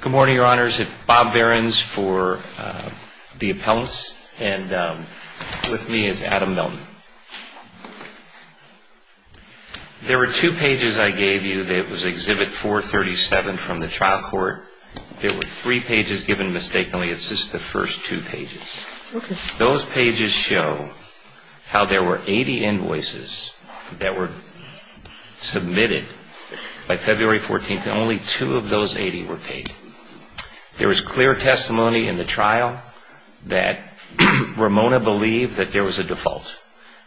Good morning, Your Honors. It's Bob Behrens for the appellants, and with me is Adam Milton. There were two pages I gave you that was Exhibit 437 from the trial court. There were three pages given mistakenly. It's just the first two pages. Okay. Those pages show how there were 80 invoices that were submitted by February 14th, and only two of those 80 were paid. There was clear testimony in the trial that Ramona believed that there was a default.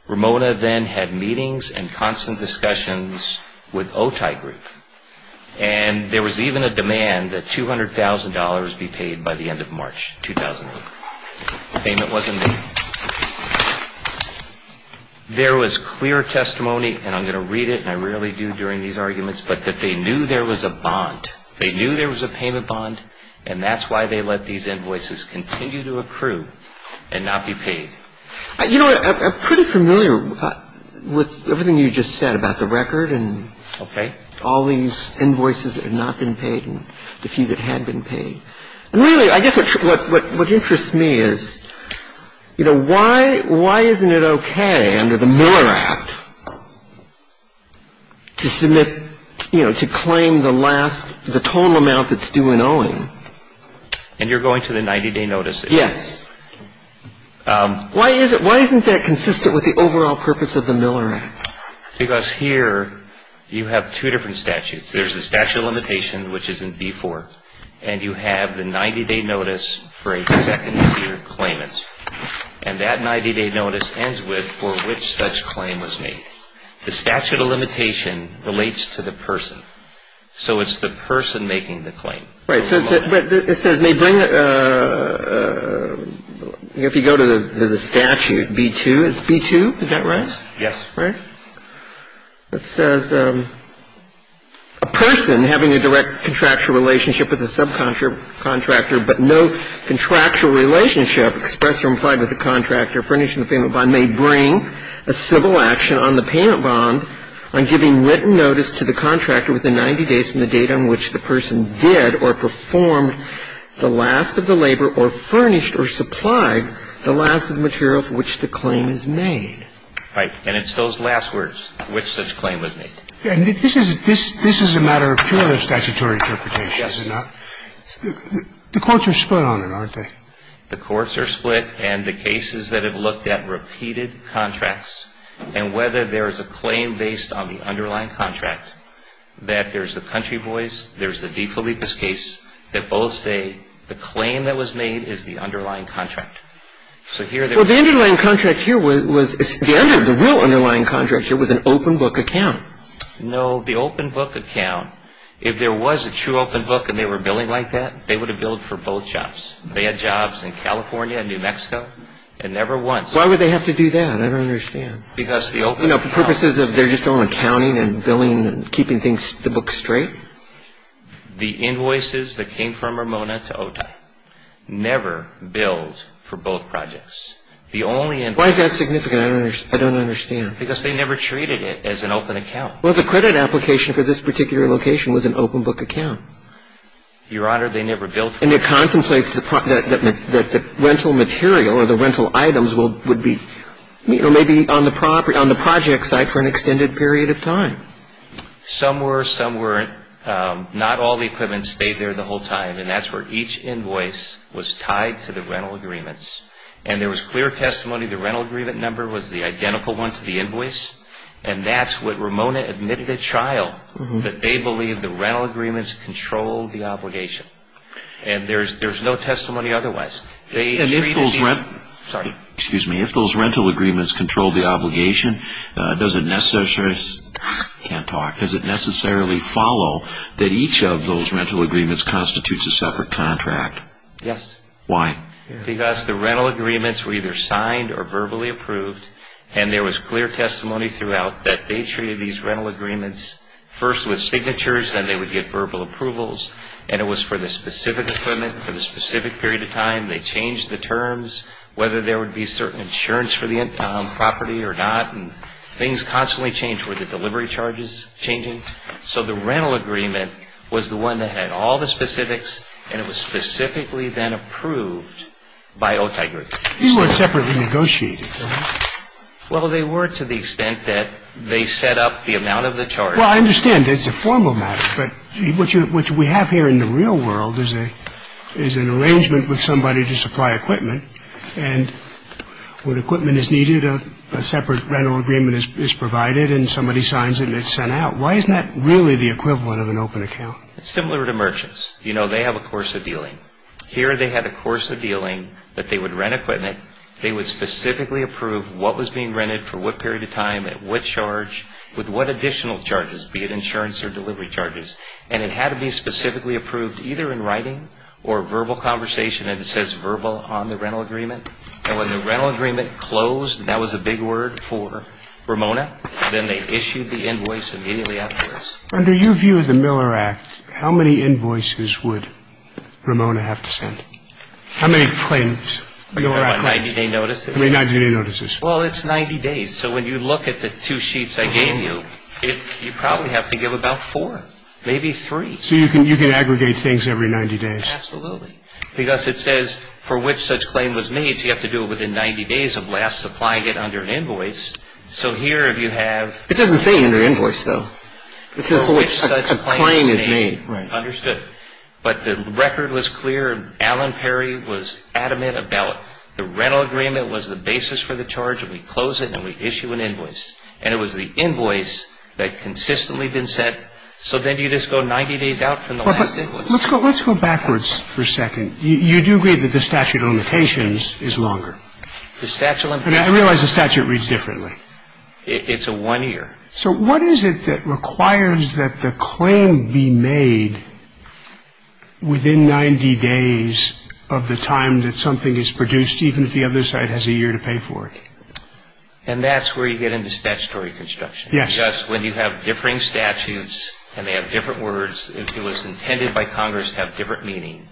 Ramona then had meetings and constant discussions with Otay Group, and there was even a demand that $200,000 be paid by the end of March 2001. The payment wasn't made. There was clear testimony, and I'm going to read it, and I rarely do during these arguments, but that they knew there was a bond. They knew there was a payment bond, and that's why they let these invoices continue to approve and not be paid. You know, I'm pretty familiar with everything you just said about the record and all these invoices that have not been paid and the few that had been paid. And really, I guess what interests me is, you know, why isn't it okay under the Miller Act to submit, you know, to claim the last, the total amount that's due in owing? And you're going to the 90-day notice issue? Yes. Why isn't that consistent with the overall purpose of the Miller Act? Because here you have two different statutes. There's the statute of limitation, which is in B-4, and you have the 90-day notice for a second-year claimant. And that 90-day notice ends with for which such claim was made. The statute of limitation relates to the person. So it's the person making the claim. Right. So it says may bring, if you go to the statute, B-2, it's B-2, is that right? Yes. Right? It says a person having a direct contractual relationship with a subcontractor but no contractual relationship expressed or implied with the contractor furnished in the payment bond may bring a civil action on the payment bond on giving written notice to the contractor within 90 days from the date on which the person did or performed the last of the labor or furnished or supplied the last of the material for which the claim is made. Right. And it's those last words, which such claim was made. And this is a matter of pure statutory interpretation, is it not? Yes. The courts are split on it, aren't they? The courts are split, and the cases that have looked at repeated contracts and whether there is a claim based on the underlying contract, that there's the Country Boys, there's the DeFilippis case, that both say the claim that was made is the underlying contract. So here there is a claim. Well, the underlying contract here was the real underlying contract here was an open book account. No. The open book account, if there was a true open book and they were billing like that, they would have billed for both jobs. They had jobs in California and New Mexico and never once. Why would they have to do that? I don't understand. Because the open book account. You know, for purposes of their just own accounting and billing and keeping things, the book straight. The invoices that came from Ramona to OTA never billed for both projects. The only invoice. Why is that significant? I don't understand. Because they never treated it as an open account. Well, the credit application for this particular location was an open book account. Your Honor, they never billed. And it contemplates that the rental material or the rental items would be, you know, maybe on the project site for an extended period of time. Some were. Some weren't. Not all the equipment stayed there the whole time. And that's where each invoice was tied to the rental agreements. And there was clear testimony the rental agreement number was the identical one to the invoice. And that's what Ramona admitted at trial, that they believed the rental agreements controlled the obligation. And there's no testimony otherwise. And if those rental agreements controlled the obligation, does it necessarily follow that each of those rental agreements constitutes a separate contract? Yes. Why? Because the rental agreements were either signed or verbally approved. And there was clear testimony throughout that they treated these rental agreements first with signatures, then they would get verbal approvals. And it was for the specific equipment, for the specific period of time. They changed the terms, whether there would be certain insurance for the property or not. And things constantly changed. Were the delivery charges changing? So the rental agreement was the one that had all the specifics, and it was specifically then approved by Otay Group. These weren't separately negotiated, were they? Well, they were to the extent that they set up the amount of the charge. Well, I understand. It's a formal matter. But what we have here in the real world is an arrangement with somebody to supply equipment. And when equipment is needed, a separate rental agreement is provided and somebody signs it and it's sent out. Why isn't that really the equivalent of an open account? It's similar to merchants. You know, they have a course of dealing. Here they had a course of dealing that they would rent equipment, they would specifically approve what was being rented for what period of time at what charge, with what additional charges, be it insurance or delivery charges. And it had to be specifically approved either in writing or verbal conversation. And it says verbal on the rental agreement. And when the rental agreement closed, and that was a big word for Ramona, then they issued the invoice immediately afterwards. Under your view of the Miller Act, how many invoices would Ramona have to send? How many claims? 90-day notices. How many 90-day notices? Well, it's 90 days. So when you look at the two sheets I gave you, you probably have to give about four, maybe three. So you can aggregate things every 90 days. Absolutely. Because it says for which such claim was made, you have to do it within 90 days of last supplying it under an invoice. So here if you have... It doesn't say under invoice, though. It says for which such claim is made. Understood. But the record was clear. Well, but let's go backwards for a second. You do agree that the statute of limitations is longer. The statute of limitations... I realize the statute reads differently. It's a one-year. So what is it that requires that the claim be made within 90 days of the last claim being made? It requires that the claim be made within 90 days of the time that something is produced, even if the other side has a year to pay for it. And that's where you get into statutory construction. Yes. Because when you have differing statutes and they have different words, if it was intended by Congress to have different meaning.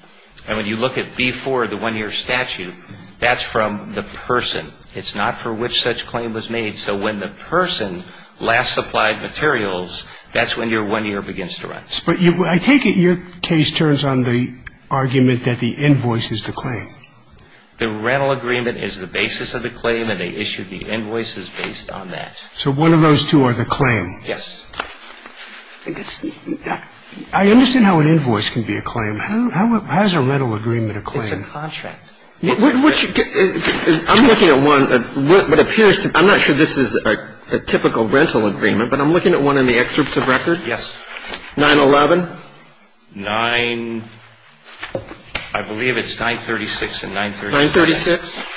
And when you look at before the one-year statute, that's from the person. It's not for which such claim was made. So when the person last supplied materials, that's when your one-year begins to run. But I take it your case turns on the argument that the invoice is the claim. The rental agreement is the basis of the claim, and they issued the invoices based on that. So one of those two are the claim. Yes. I understand how an invoice can be a claim. How is a rental agreement a claim? It's a contract. I'm looking at one that appears to be, I'm not sure this is a typical rental agreement, but I'm looking at one in the excerpts of record. Yes. 911. 9, I believe it's 936 and 937. 936.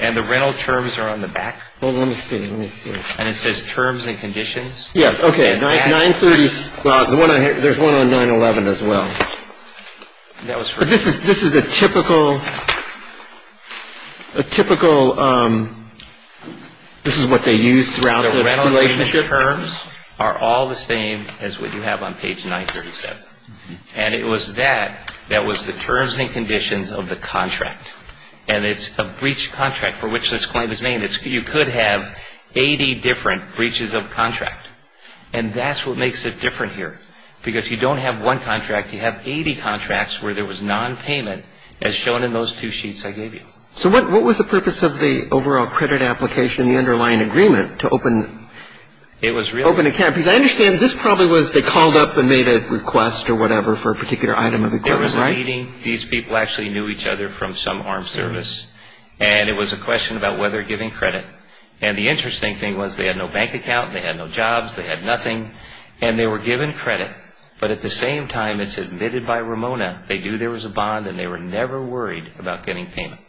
And the rental terms are on the back. Well, let me see. Let me see. And it says terms and conditions. Yes. Okay. There's one on 911 as well. This is a typical, a typical this is what they use throughout the relationship. The rental agreement terms are all the same as what you have on page 937. And it was that. That was the terms and conditions of the contract, and it's a breach of contract for which this claim is made. You could have 80 different breaches of contract. And that's what makes it different here, because you don't have one contract. You have 80 contracts where there was nonpayment, as shown in those two sheets I gave you. So what was the purpose of the overall credit application, the underlying agreement, to open an account? Because I understand this probably was they called up and made a request or whatever for a particular item of equipment, right? It was a meeting. These people actually knew each other from some armed service. And it was a question about whether giving credit. And the interesting thing was they had no bank account. They had no jobs. They had nothing. And they were given credit. But at the same time, it's admitted by Ramona. They knew there was a bond, and they were never worried about getting payment.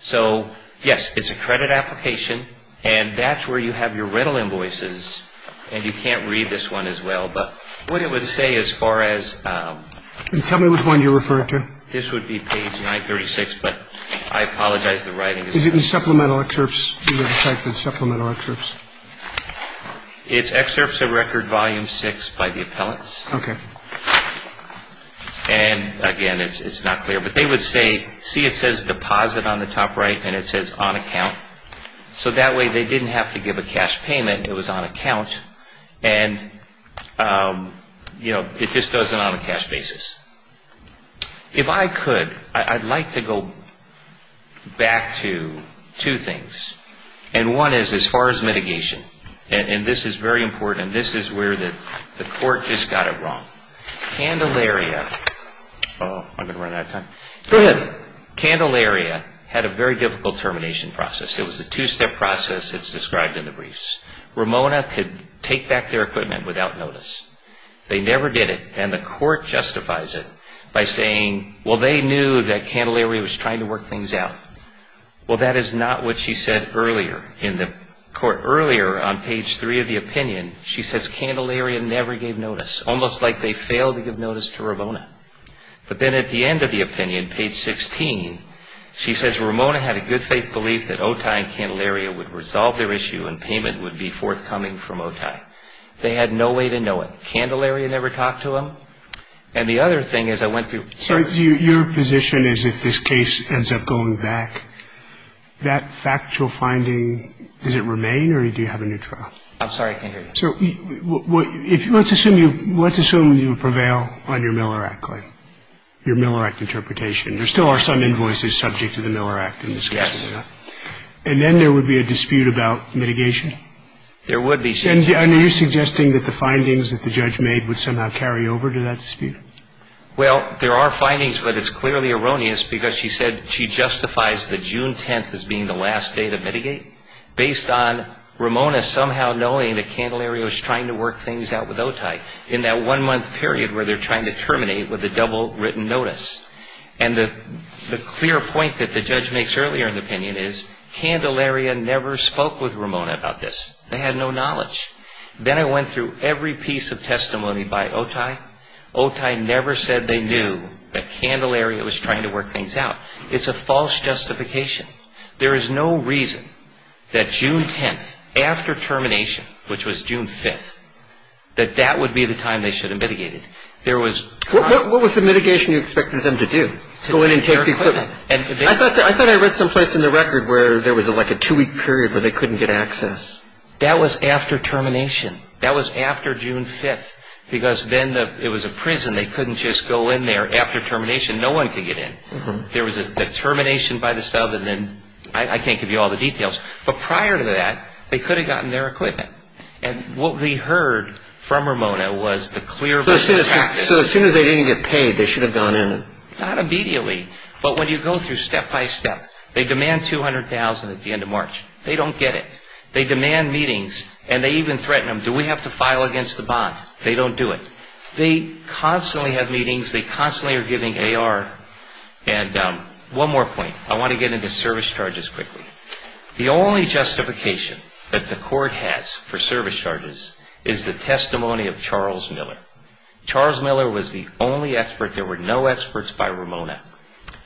So, yes, it's a credit application. And that's where you have your rental invoices. And you can't read this one as well. But what it would say as far as. Tell me which one you're referring to. This would be page 936, but I apologize. Is it in the supplemental excerpts? These are the supplemental excerpts. It's excerpts of record volume 6 by the appellants. Okay. And, again, it's not clear. But they would say. See, it says deposit on the top right, and it says on account. So that way they didn't have to give a cash payment. It was on account. And, you know, it just does it on a cash basis. If I could, I'd like to go back to two things. And one is as far as mitigation. And this is very important. This is where the court just got it wrong. Candelaria. Oh, I'm going to run out of time. Go ahead. Candelaria had a very difficult termination process. It was a two-step process that's described in the briefs. Ramona could take back their equipment without notice. They never did it. And the court justifies it by saying, well, they knew that Candelaria was trying to work things out. Well, that is not what she said earlier in the court. Earlier on page 3 of the opinion, she says, Candelaria never gave notice. Almost like they failed to give notice to Ramona. But then at the end of the opinion, page 16, she says, Ramona had a good faith belief that OTI and Candelaria would resolve their issue and payment would be forthcoming from OTI. They had no way to know it. They had no way to know what was going on. They had no way to know whether Candelaria had talked to them. And the other thing is I went through the first — So your position is if this case ends up going back, that factual finding, does it remain or do you have a new trial? I'm sorry, I can't hear you. So let's assume you prevail on your Miller Act claim, your Miller Act interpretation. There still are some invoices subject to the Miller Act in this case. Yes. And then there would be a dispute about mitigation? There would be. And are you suggesting that the findings that the judge made would somehow carry over to that dispute? Well, there are findings, but it's clearly erroneous because she said she justifies the June 10th as being the last day to mitigate based on Ramona somehow knowing that Candelaria was trying to work things out with OTI in that one-month period where they're trying to terminate with a double written notice. And the clear point that the judge makes earlier in the opinion is Candelaria never spoke with Ramona about this. They had no knowledge. Then I went through every piece of testimony by OTI. OTI never said they knew that Candelaria was trying to work things out. It's a false justification. There is no reason that June 10th after termination, which was June 5th, that that would be the time they should have mitigated. What was the mitigation you expected them to do? Go in and take the equipment. I thought I read someplace in the record where there was like a two-week period where they couldn't get access. That was after termination. That was after June 5th because then it was a prison. They couldn't just go in there after termination. No one could get in. There was a termination by the sub, and then I can't give you all the details. But prior to that, they could have gotten their equipment. What we heard from Ramona was the clear voice of practice. So as soon as they didn't get paid, they should have gone in. Not immediately, but when you go through step-by-step, they demand $200,000 at the end of March. They don't get it. They demand meetings, and they even threaten them, do we have to file against the bond? They don't do it. They constantly have meetings. They constantly are giving AR. One more point. I want to get into service charges quickly. The only justification that the court has for service charges is the testimony of Charles Miller. Charles Miller was the only expert. There were no experts by Ramona.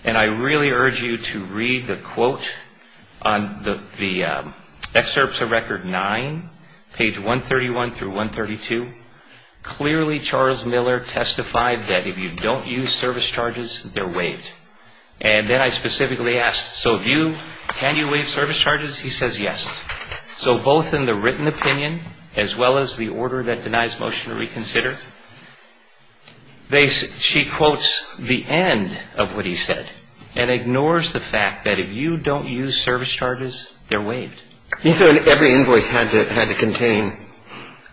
And I really urge you to read the quote on the excerpts of Record 9, page 131 through 132. Clearly, Charles Miller testified that if you don't use service charges, they're waived. And then I specifically asked, so can you waive service charges? He says yes. So both in the written opinion, as well as the order that denies motion to reconsider, she quotes the end of what he said and ignores the fact that if you don't use service charges, they're waived. You said every invoice had to contain.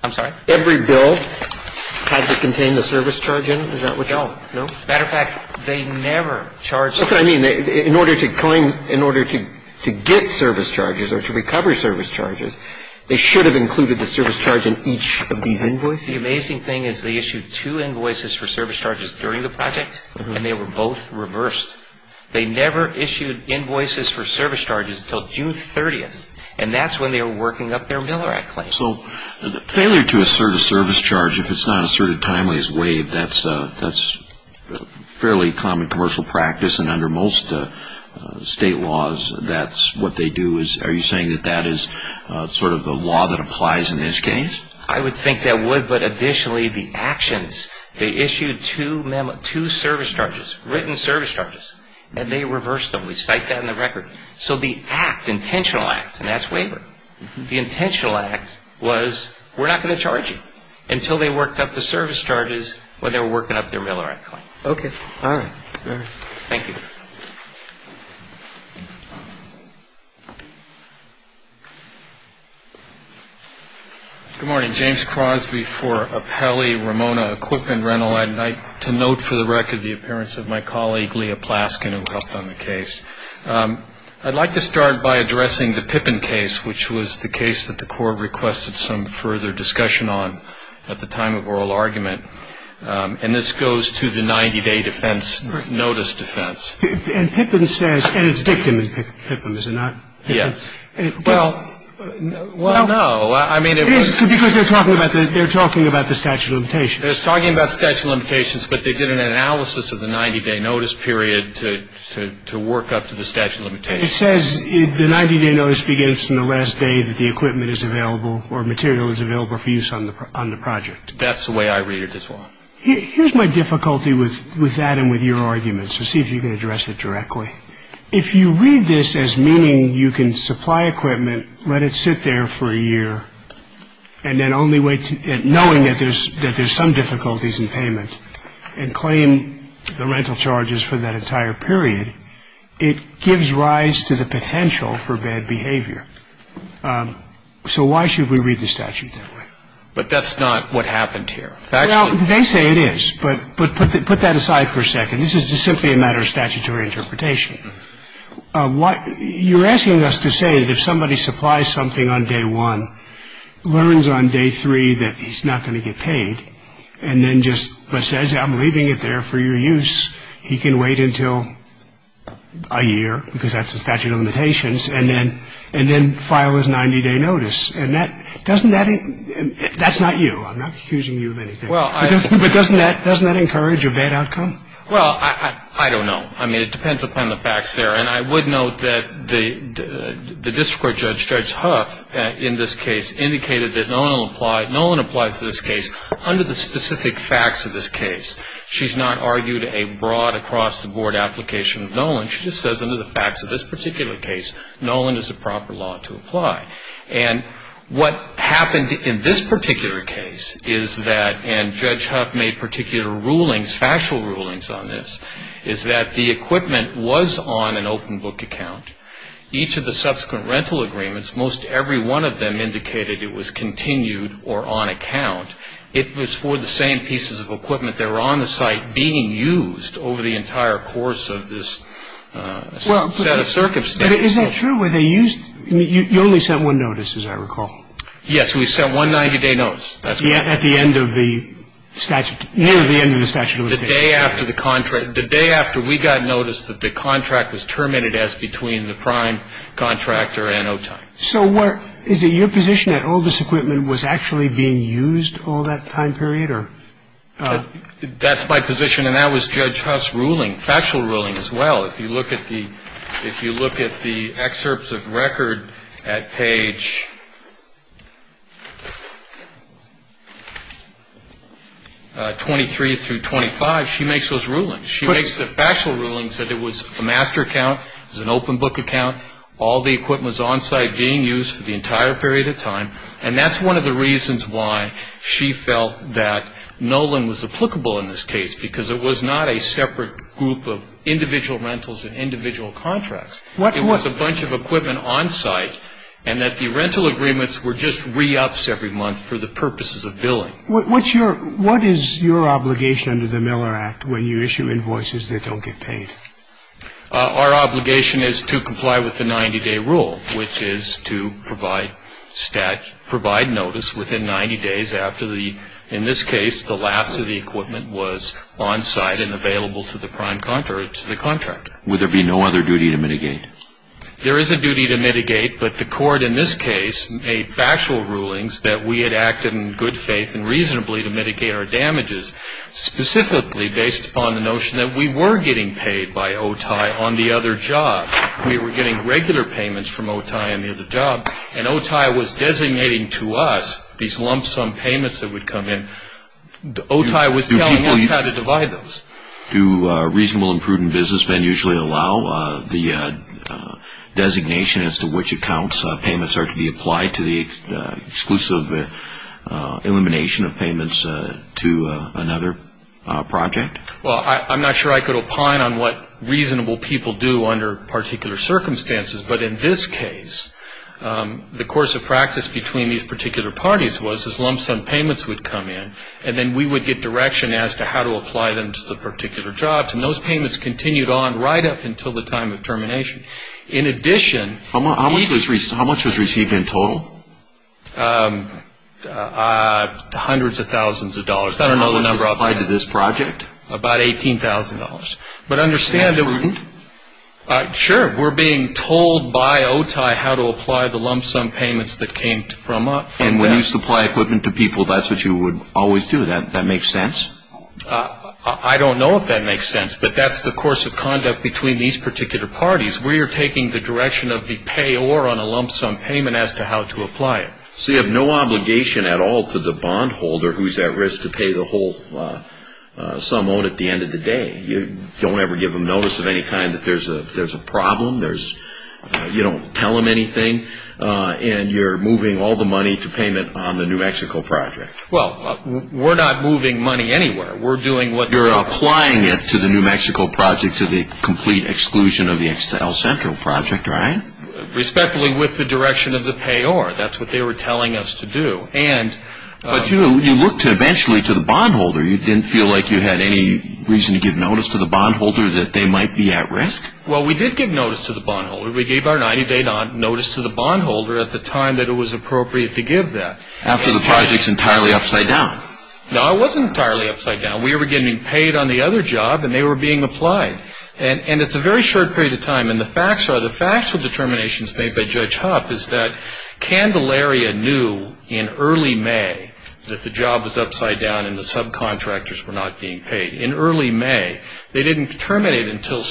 I'm sorry? Every bill had to contain the service charge in? No. Matter of fact, they never charged. That's what I mean. In order to claim, in order to get service charges or to recover service charges, they should have included the service charge in each of these invoices? The amazing thing is they issued two invoices for service charges during the project, and they were both reversed. They never issued invoices for service charges until June 30th, and that's when they were working up their Miller Act claim. So failure to assert a service charge, if it's not asserted timely, is waived. That's a fairly common commercial practice, and under most state laws that's what they do. Are you saying that that is sort of the law that applies in this case? I would think that would, but additionally the actions, they issued two service charges, written service charges, and they reversed them. We cite that in the record. So the act, intentional act, and that's waivered. The intentional act was we're not going to charge you until they worked up the service charges when they were working up their Miller Act claim. Okay. All right. Thank you. Good morning. James Crosby for Apelli Ramona Equipment Rental. I'd like to note for the record the appearance of my colleague, Leah Plaskin, who helped on the case. I'd like to start by addressing the Pippin case, which was the case that the court requested some further discussion on at the time of oral argument. And this goes to the 90-day defense, notice defense. And Pippin says, and it's dictum is Pippin, is it not? Well, no. Well, no. I mean, it was. Because they're talking about the statute of limitations. They're talking about statute of limitations, but they did an analysis of the 90-day notice period to work up to the statute of limitations. It says the 90-day notice begins from the last day that the equipment is available or material is available for use on the project. That's the way I read it as well. Here's my difficulty with that and with your argument. So see if you can address it directly. If you read this as meaning you can supply equipment, let it sit there for a year, and then only wait, knowing that there's some difficulties in payment, and claim the rental charges for that entire period, it gives rise to the potential for bad behavior. So why should we read the statute that way? But that's not what happened here. Well, they say it is. But put that aside for a second. This is simply a matter of statutory interpretation. You're asking us to say that if somebody supplies something on day one, learns on day three that he's not going to get paid, and then just says, I'm leaving it there for your use, he can wait until a year, because that's the statute of limitations, and then file his 90-day notice. And that's not you. I'm not accusing you of anything. But doesn't that encourage a bad outcome? Well, I don't know. I mean, it depends upon the facts there. And I would note that the district court judge, Judge Huff, in this case indicated that no one applies to this case under the specific facts of this case. She's not argued a broad across-the-board application of Nolan. She just says under the facts of this particular case, Nolan is the proper law to apply. And what happened in this particular case is that, and Judge Huff made particular rulings, factual rulings on this, is that the equipment was on an open book account. Each of the subsequent rental agreements, most every one of them indicated it was continued or on account. It was for the same pieces of equipment that were on the site being used over the entire course of this set of circumstances. Is that true? Were they used? You only sent one notice, as I recall. Yes. We sent one 90-day notice. At the end of the statute. Near the end of the statute of limitations. The day after the contract. The day after we got notice that the contract was terminated as between the prime contractor and OTIME. So is it your position that all this equipment was actually being used all that time period? That's my position. And that was Judge Huff's ruling, factual ruling as well. If you look at the excerpts of record at page 23 through 25, she makes those rulings. She makes the factual rulings that it was a master account. It was an open book account. All the equipment was on site being used for the entire period of time. And that's one of the reasons why she felt that Nolan was applicable in this case because it was not a separate group of individual rentals and individual contracts. It was a bunch of equipment on site and that the rental agreements were just re-ups every month for the purposes of billing. What is your obligation under the Miller Act when you issue invoices that don't get paid? Our obligation is to comply with the 90-day rule, which is to provide notice within 90 days after the, in this case, the last of the equipment was on site and available to the prime contractor, to the contractor. Would there be no other duty to mitigate? There is a duty to mitigate, but the court in this case made factual rulings that we had acted in good faith and reasonably to mitigate our damages, specifically based upon the notion that we were getting paid by OTI on the other job. We were getting regular payments from OTI on the other job, and OTI was designating to us these lump sum payments that would come in. OTI was telling us how to divide those. Do reasonable and prudent businessmen usually allow the designation as to which accounts payments are to be applied to the exclusive elimination of payments to another project? Well, I'm not sure I could opine on what reasonable people do under particular circumstances, but in this case the course of practice between these particular parties was these lump sum payments would come in, and then we would get direction as to how to apply them to the particular jobs, and those payments continued on right up until the time of termination. In addition, How much was received in total? Hundreds of thousands of dollars. I don't know the number of that. How much was applied to this project? About $18,000. Is that prudent? Sure. We're being told by OTI how to apply the lump sum payments that came from that. And when you supply equipment to people, that's what you would always do. That makes sense? I don't know if that makes sense, but that's the course of conduct between these particular parties. We are taking the direction of the payor on a lump sum payment as to how to apply it. So you have no obligation at all to the bondholder who's at risk to pay the whole sum owed at the end of the day. You don't ever give them notice of any kind that there's a problem. You don't tell them anything, and you're moving all the money to payment on the New Mexico project. Well, we're not moving money anywhere. You're applying it to the New Mexico project to the complete exclusion of the El Centro project, right? Respectfully with the direction of the payor. That's what they were telling us to do. But you looked eventually to the bondholder. You didn't feel like you had any reason to give notice to the bondholder that they might be at risk? Well, we did give notice to the bondholder. We gave our 90-day notice to the bondholder at the time that it was appropriate to give that. After the project's entirely upside down? No, it wasn't entirely upside down. We were getting paid on the other job, and they were being applied. And it's a very short period of time. And the facts are, the factual determinations made by Judge Hupp is that Candelaria knew in early May that the job was upside down and the subcontractors were not being paid. In early May. They didn't terminate until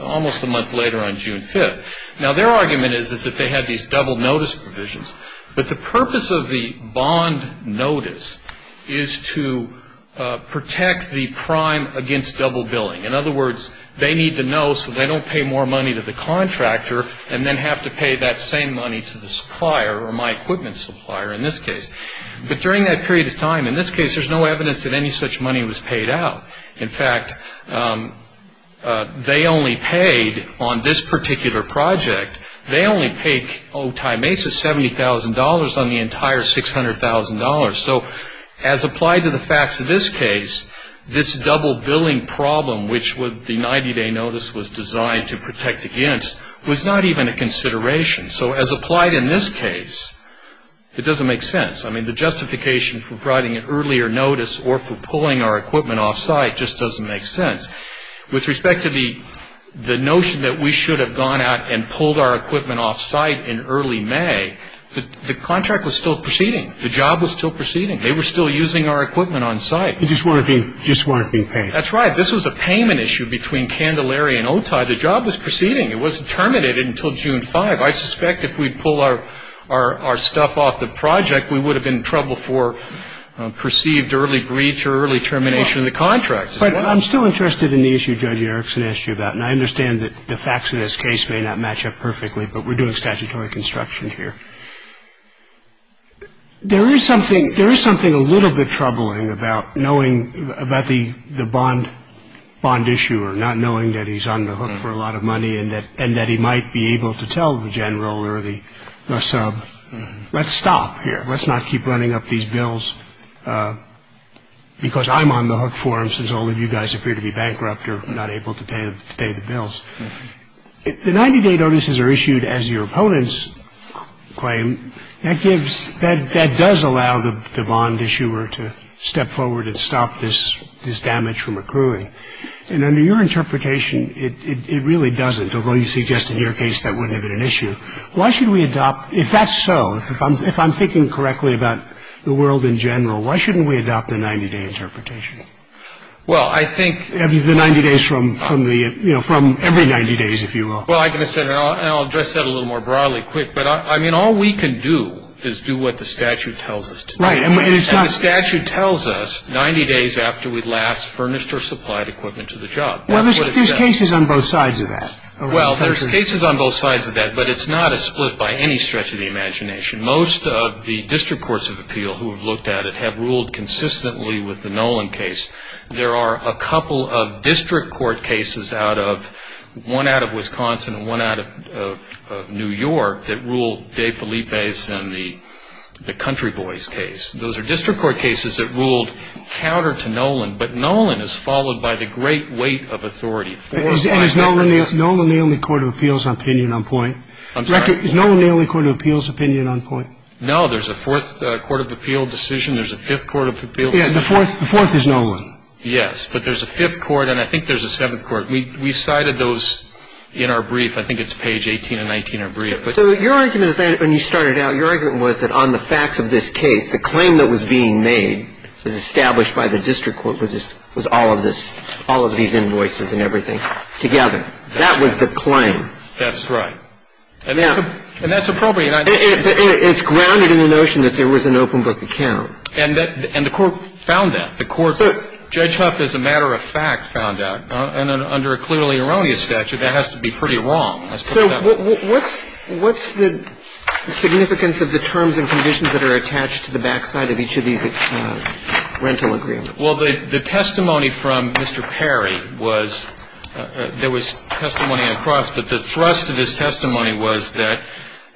almost a month later on June 5th. Now, their argument is that they had these double notice provisions. But the purpose of the bond notice is to protect the prime against double billing. In other words, they need to know so they don't pay more money to the contractor and then have to pay that same money to the supplier or my equipment supplier in this case. But during that period of time, in this case, there's no evidence that any such money was paid out. In fact, they only paid on this particular project, they only paid OTI Mesa $70,000 on the entire $600,000. So as applied to the facts of this case, this double billing problem, which the 90-day notice was designed to protect against, was not even a consideration. So as applied in this case, it doesn't make sense. I mean, the justification for writing an earlier notice or for pulling our equipment off site just doesn't make sense. With respect to the notion that we should have gone out and pulled our equipment off site in early May, the contract was still proceeding. The job was still proceeding. They were still using our equipment on site. They just weren't being paid. That's right. This was a payment issue between Candelaria and OTI. The job was proceeding. It wasn't terminated until June 5th. I suspect if we'd pulled our stuff off the project, we would have been in trouble for perceived early breach or early termination of the contract. But I'm still interested in the issue Judge Erickson asked you about, and I understand that the facts of this case may not match up perfectly, but we're doing statutory construction here. There is something a little bit troubling about knowing about the bond issuer, not knowing that he's on the hook for a lot of money and that he might be able to tell the general or the sub, let's stop here. Let's not keep running up these bills because I'm on the hook for them since all of you guys appear to be bankrupt or not able to pay the bills. If the 90-day notices are issued as your opponents claim, that does allow the bond issuer to step forward and stop this damage from accruing. And under your interpretation, it really doesn't, although you suggest in your case that wouldn't have been an issue. Why should we adopt, if that's so, if I'm thinking correctly about the world in general, why shouldn't we adopt a 90-day interpretation? The 90 days from every 90 days, if you will. Well, I can understand that, and I'll address that a little more broadly quick. But, I mean, all we can do is do what the statute tells us to do. And the statute tells us 90 days after we last furnished or supplied equipment to the job. Well, there's cases on both sides of that. Well, there's cases on both sides of that, but it's not a split by any stretch of the imagination. Most of the district courts of appeal who have looked at it have ruled consistently with the Nolan case. There are a couple of district court cases, one out of Wisconsin and one out of New York, that rule Dave Felipe's and the Country Boys case. Those are district court cases that ruled counter to Nolan. But Nolan is followed by the great weight of authority. And is Nolan the only court of appeals opinion on point? I'm sorry? Is Nolan the only court of appeals opinion on point? No. There's a fourth court of appeal decision. There's a fifth court of appeal decision. Yes. The fourth is Nolan. Yes. But there's a fifth court, and I think there's a seventh court. We cited those in our brief. I think it's page 18 and 19 of our brief. So your argument is that when you started out, your argument was that on the facts of this case, the claim that was being made was established by the district court was all of this, all of these invoices and everything together. That was the claim. That's right. And that's appropriate. It's grounded in the notion that there was an open book account. And the Court found that. The Court, Judge Huff, as a matter of fact, found that. And under a clearly erroneous statute, that has to be pretty wrong. So what's the significance of the terms and conditions that are attached to the backside of each of these rental agreements? Well, the testimony from Mr. Perry was there was testimony across. But the thrust of his testimony was that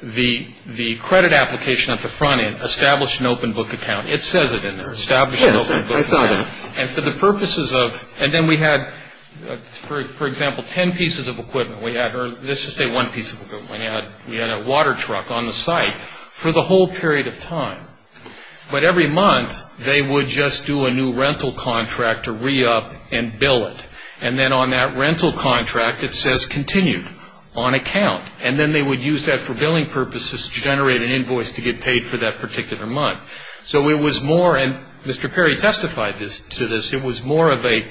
the credit application at the front end established an open book account. It says it in there, established an open book account. Yes, I saw that. And for the purposes of, and then we had, for example, ten pieces of equipment. We had, or let's just say one piece of equipment. We had a water truck on the site for the whole period of time. But every month, they would just do a new rental contract to re-up and bill it. And then on that rental contract, it says continued on account. And then they would use that for billing purposes to generate an invoice to get paid for that particular month. So it was more, and Mr. Perry testified to this, it was more of a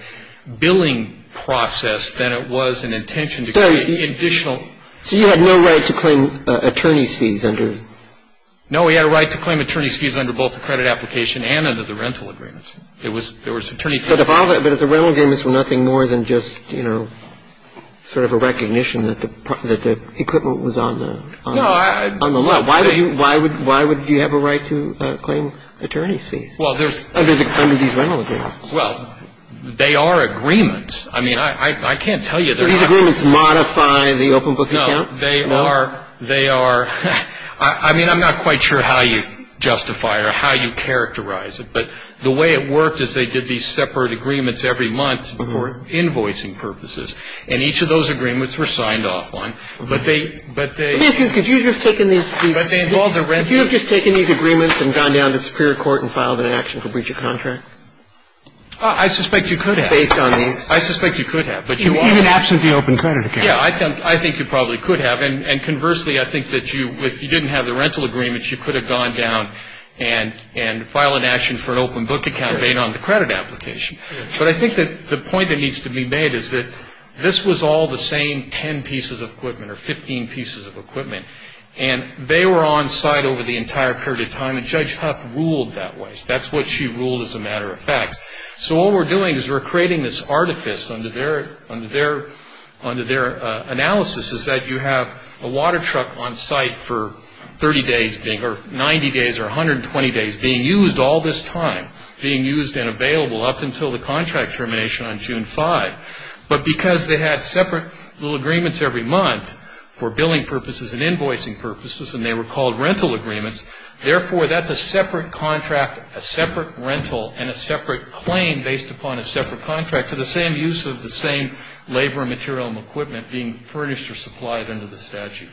billing process than it was an intention to create additional. So you had no right to claim attorney's fees under? No, we had a right to claim attorney's fees under both the credit application and under the rental agreements. It was, there was attorney's fees. But if the rental agreements were nothing more than just, you know, sort of a recognition that the equipment was on the left. Why would you have a right to claim attorney's fees? Well, there's, under these rental agreements. Well, they are agreements. I mean, I can't tell you. So these agreements modify the open book account? No, they are, they are, I mean, I'm not quite sure how you justify or how you characterize it. But the way it worked is they did these separate agreements every month for invoicing purposes. And each of those agreements were signed off on. But they, but they. Excuse me, could you have just taken these agreements and gone down to the superior court and filed an action for breach of contract? I suspect you could have. Based on these. I suspect you could have. Even absent the open credit account. Yeah, I think you probably could have. And conversely, I think that you, if you didn't have the rental agreements, you could have gone down and filed an action for an open book account, being on the credit application. But I think that the point that needs to be made is that this was all the same 10 pieces of equipment or 15 pieces of equipment. And they were on site over the entire period of time. And Judge Huff ruled that way. That's what she ruled as a matter of fact. So what we're doing is we're creating this artifice under their analysis is that you have a water truck on site for 30 days, or 90 days, or 120 days, being used all this time, being used and available up until the contract termination on June 5th. But because they had separate little agreements every month for billing purposes and invoicing purposes, and they were called rental agreements, therefore, that's a separate contract, a separate rental, and a separate claim based upon a separate contract for the same use of the same labor, material, and equipment being furnished or supplied under the statute.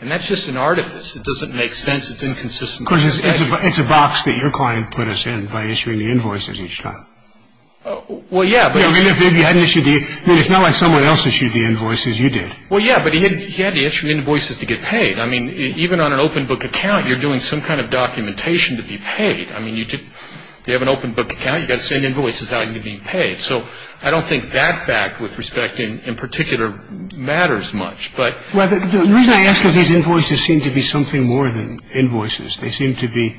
And that's just an artifice. It doesn't make sense. It's inconsistent with the statute. Of course, it's a box that your client put us in by issuing the invoices each time. Well, yeah, but... I mean, if they hadn't issued the... I mean, it's not like someone else issued the invoices. You did. Well, yeah, but he had to issue invoices to get paid. I mean, even on an open book account, you're doing some kind of documentation to be paid. I mean, you have an open book account. You've got to send invoices out and you're being paid. So I don't think that fact with respect in particular matters much. Well, the reason I ask is these invoices seem to be something more than invoices. They seem to be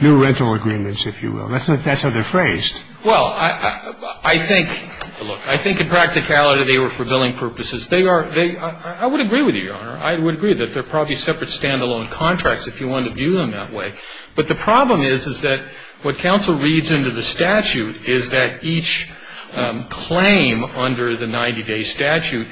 new rental agreements, if you will. That's how they're phrased. Well, I think in practicality they were for billing purposes. I would agree with you, Your Honor. I would agree that they're probably separate stand-alone contracts if you wanted to view them that way. But the problem is, is that what counsel reads into the statute is that each claim under the 90-day statute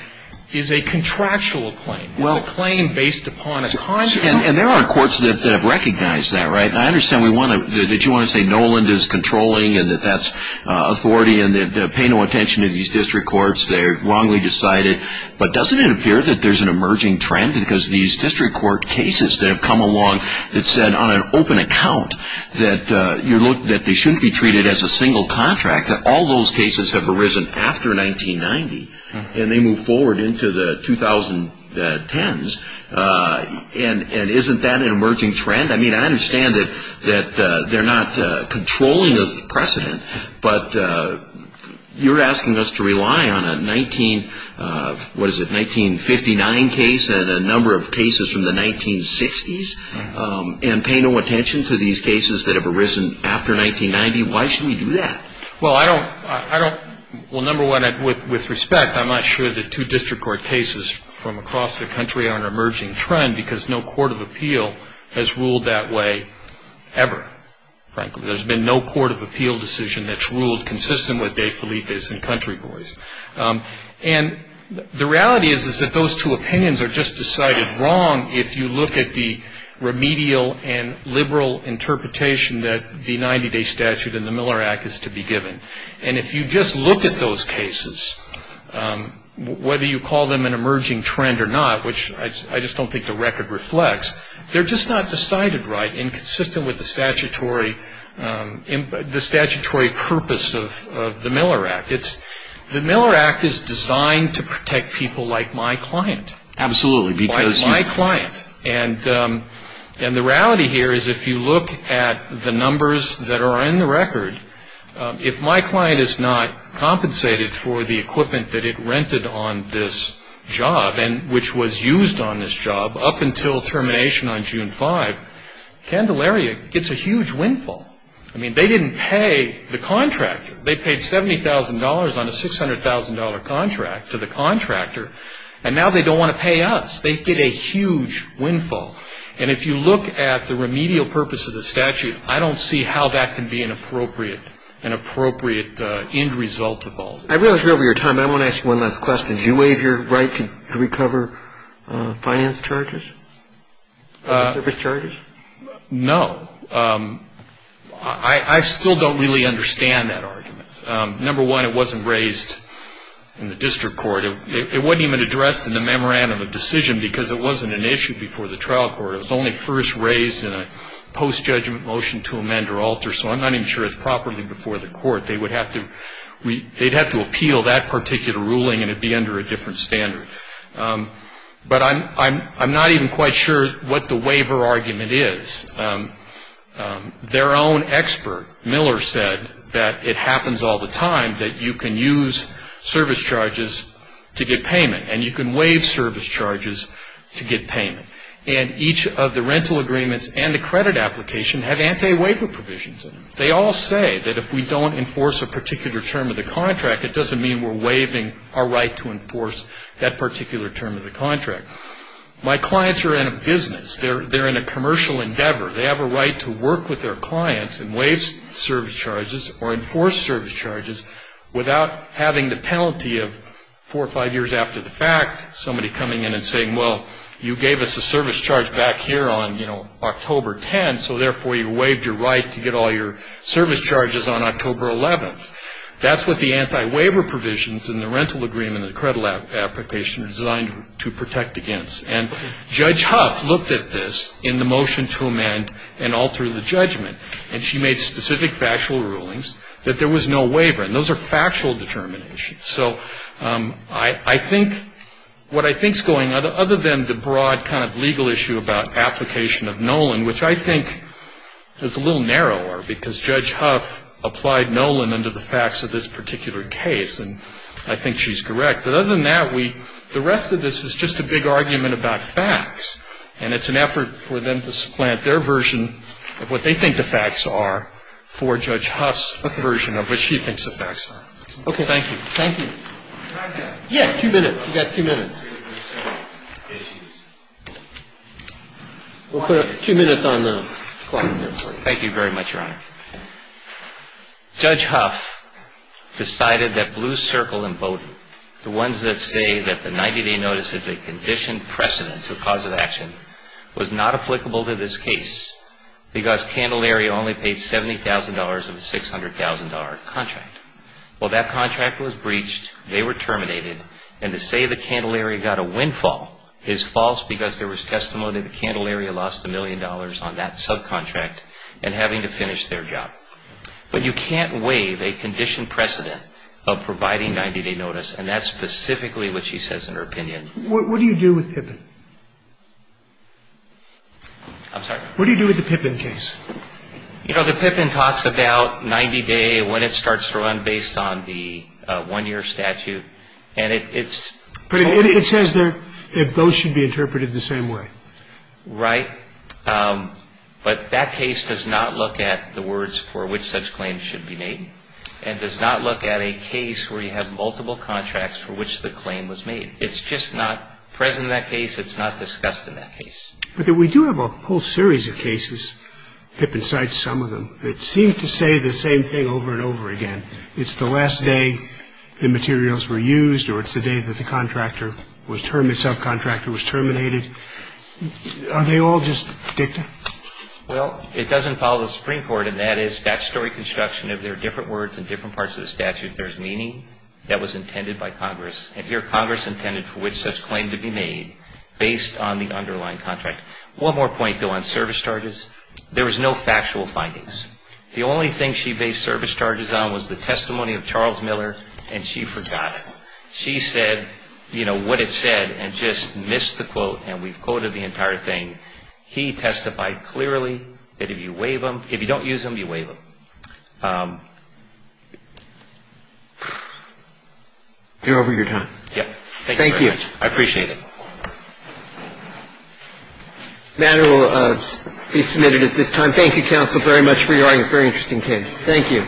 is a contractual claim. It's a claim based upon a contract. And there are courts that have recognized that, right? And I understand that you want to say Noland is controlling and that that's authority and that pay no attention to these district courts. They're wrongly decided. But doesn't it appear that there's an emerging trend because these district court cases that have come along that said on an open account that they shouldn't be treated as a single contract, all those cases have arisen after 1990 and they move forward into the 2010s? And isn't that an emerging trend? I mean, I understand that they're not controlling the precedent, but you're asking us to rely on a 19, what is it, 1959 case and a number of cases from the 1960s and pay no attention to these cases that have arisen after 1990? Why should we do that? Well, I don't, I don't, well, number one, with respect, I'm not sure that two district court cases from across the country are an emerging trend because no court of appeal has ruled that way ever, frankly. There's been no court of appeal decision that's ruled consistent with De Felipe's and Country Boy's. And the reality is that those two opinions are just decided wrong if you look at the remedial and liberal interpretation that the 90-day statute in the Miller Act is to be given. And if you just look at those cases, whether you call them an emerging trend or not, which I just don't think the record reflects, they're just not decided right and consistent with the statutory purpose of the Miller Act. The Miller Act is designed to protect people like my client. Absolutely. And the reality here is if you look at the numbers that are in the record, if my client is not compensated for the equipment that it rented on this job and which was used on this job up until termination on June 5, Candelaria gets a huge windfall. I mean, they didn't pay the contractor. They paid $70,000 on a $600,000 contract to the contractor, and now they don't want to pay us. They get a huge windfall. And if you look at the remedial purpose of the statute, I don't see how that can be an appropriate end result of all this. I realize we're over your time, but I want to ask you one last question. Did you waive your right to recover finance charges, service charges? No. I still don't really understand that argument. Number one, it wasn't raised in the district court. It wasn't even addressed in the memorandum of decision because it wasn't an issue before the trial court. It was only first raised in a post-judgment motion to amend or alter, so I'm not even sure it's properly before the court. They'd have to appeal that particular ruling, and it would be under a different standard. But I'm not even quite sure what the waiver argument is. Their own expert, Miller, said that it happens all the time, that you can use service charges to get payment, and you can waive service charges to get payment. And each of the rental agreements and the credit application have anti-waiver provisions in them. They all say that if we don't enforce a particular term of the contract, it doesn't mean we're waiving our right to enforce that particular term of the contract. My clients are in a business. They're in a commercial endeavor. They have a right to work with their clients and waive service charges or enforce service charges without having the penalty of four or five years after the fact, somebody coming in and saying, well, you gave us a service charge back here on, you know, October 10th, so therefore you waived your right to get all your service charges on October 11th. That's what the anti-waiver provisions in the rental agreement and the credit application are designed to protect against. And Judge Huff looked at this in the motion to amend and alter the judgment, and she made specific factual rulings that there was no waiver. And those are factual determinations. So I think what I think is going on, other than the broad kind of legal issue about application of Nolan, which I think is a little narrower because Judge Huff applied Nolan under the facts of this particular case, and I think she's correct. But other than that, the rest of this is just a big argument about facts, and it's an effort for them to supplant their version of what they think the facts are for Judge Huff's version of what she thinks the facts are. Okay. Thank you. Thank you. Yeah, two minutes. You've got two minutes. We'll put two minutes on the clock. Thank you very much, Your Honor. Judge Huff decided that Blue Circle and Bowdoin, the ones that say that the 90-day notice is a conditioned precedent to a cause of action, was not applicable to this case because Candelaria only paid $70,000 of the $600,000 contract. Well, that contract was breached, they were terminated, and to say that Candelaria got a windfall is false because there was testimony that Candelaria lost a million dollars on that subcontract and having to finish their job. But you can't waive a conditioned precedent of providing 90-day notice, and that's specifically what she says in her opinion. What do you do with Pippin? I'm sorry? What do you do with the Pippin case? You know, the Pippin talks about 90-day, when it starts to run based on the one-year statute, and it's so – But it says there if those should be interpreted the same way. Right. But that case does not look at the words for which such claims should be made and does not look at a case where you have multiple contracts for which the claim was made. It's just not present in that case. It's not discussed in that case. But we do have a whole series of cases, Pippin cites some of them, that seem to say the same thing over and over again. It's the last day the materials were used, or it's the day that the subcontractor was terminated. Are they all just dicta? Well, it doesn't follow the Supreme Court, and that is statutory construction. If there are different words in different parts of the statute, there's meaning that was intended by Congress, and here Congress intended for which such claim to be made based on the underlying contract. One more point, though, on service charges. There was no factual findings. The only thing she based service charges on was the testimony of Charles Miller, and she forgot it. She said, you know, what it said and just missed the quote, and we've quoted the entire thing. He testified clearly that if you waive them, if you don't use them, you waive them. You're over your time. Thank you very much. I appreciate it. The matter will be submitted at this time. Thank you, counsel, very much for your audience. Very interesting case. Thank you.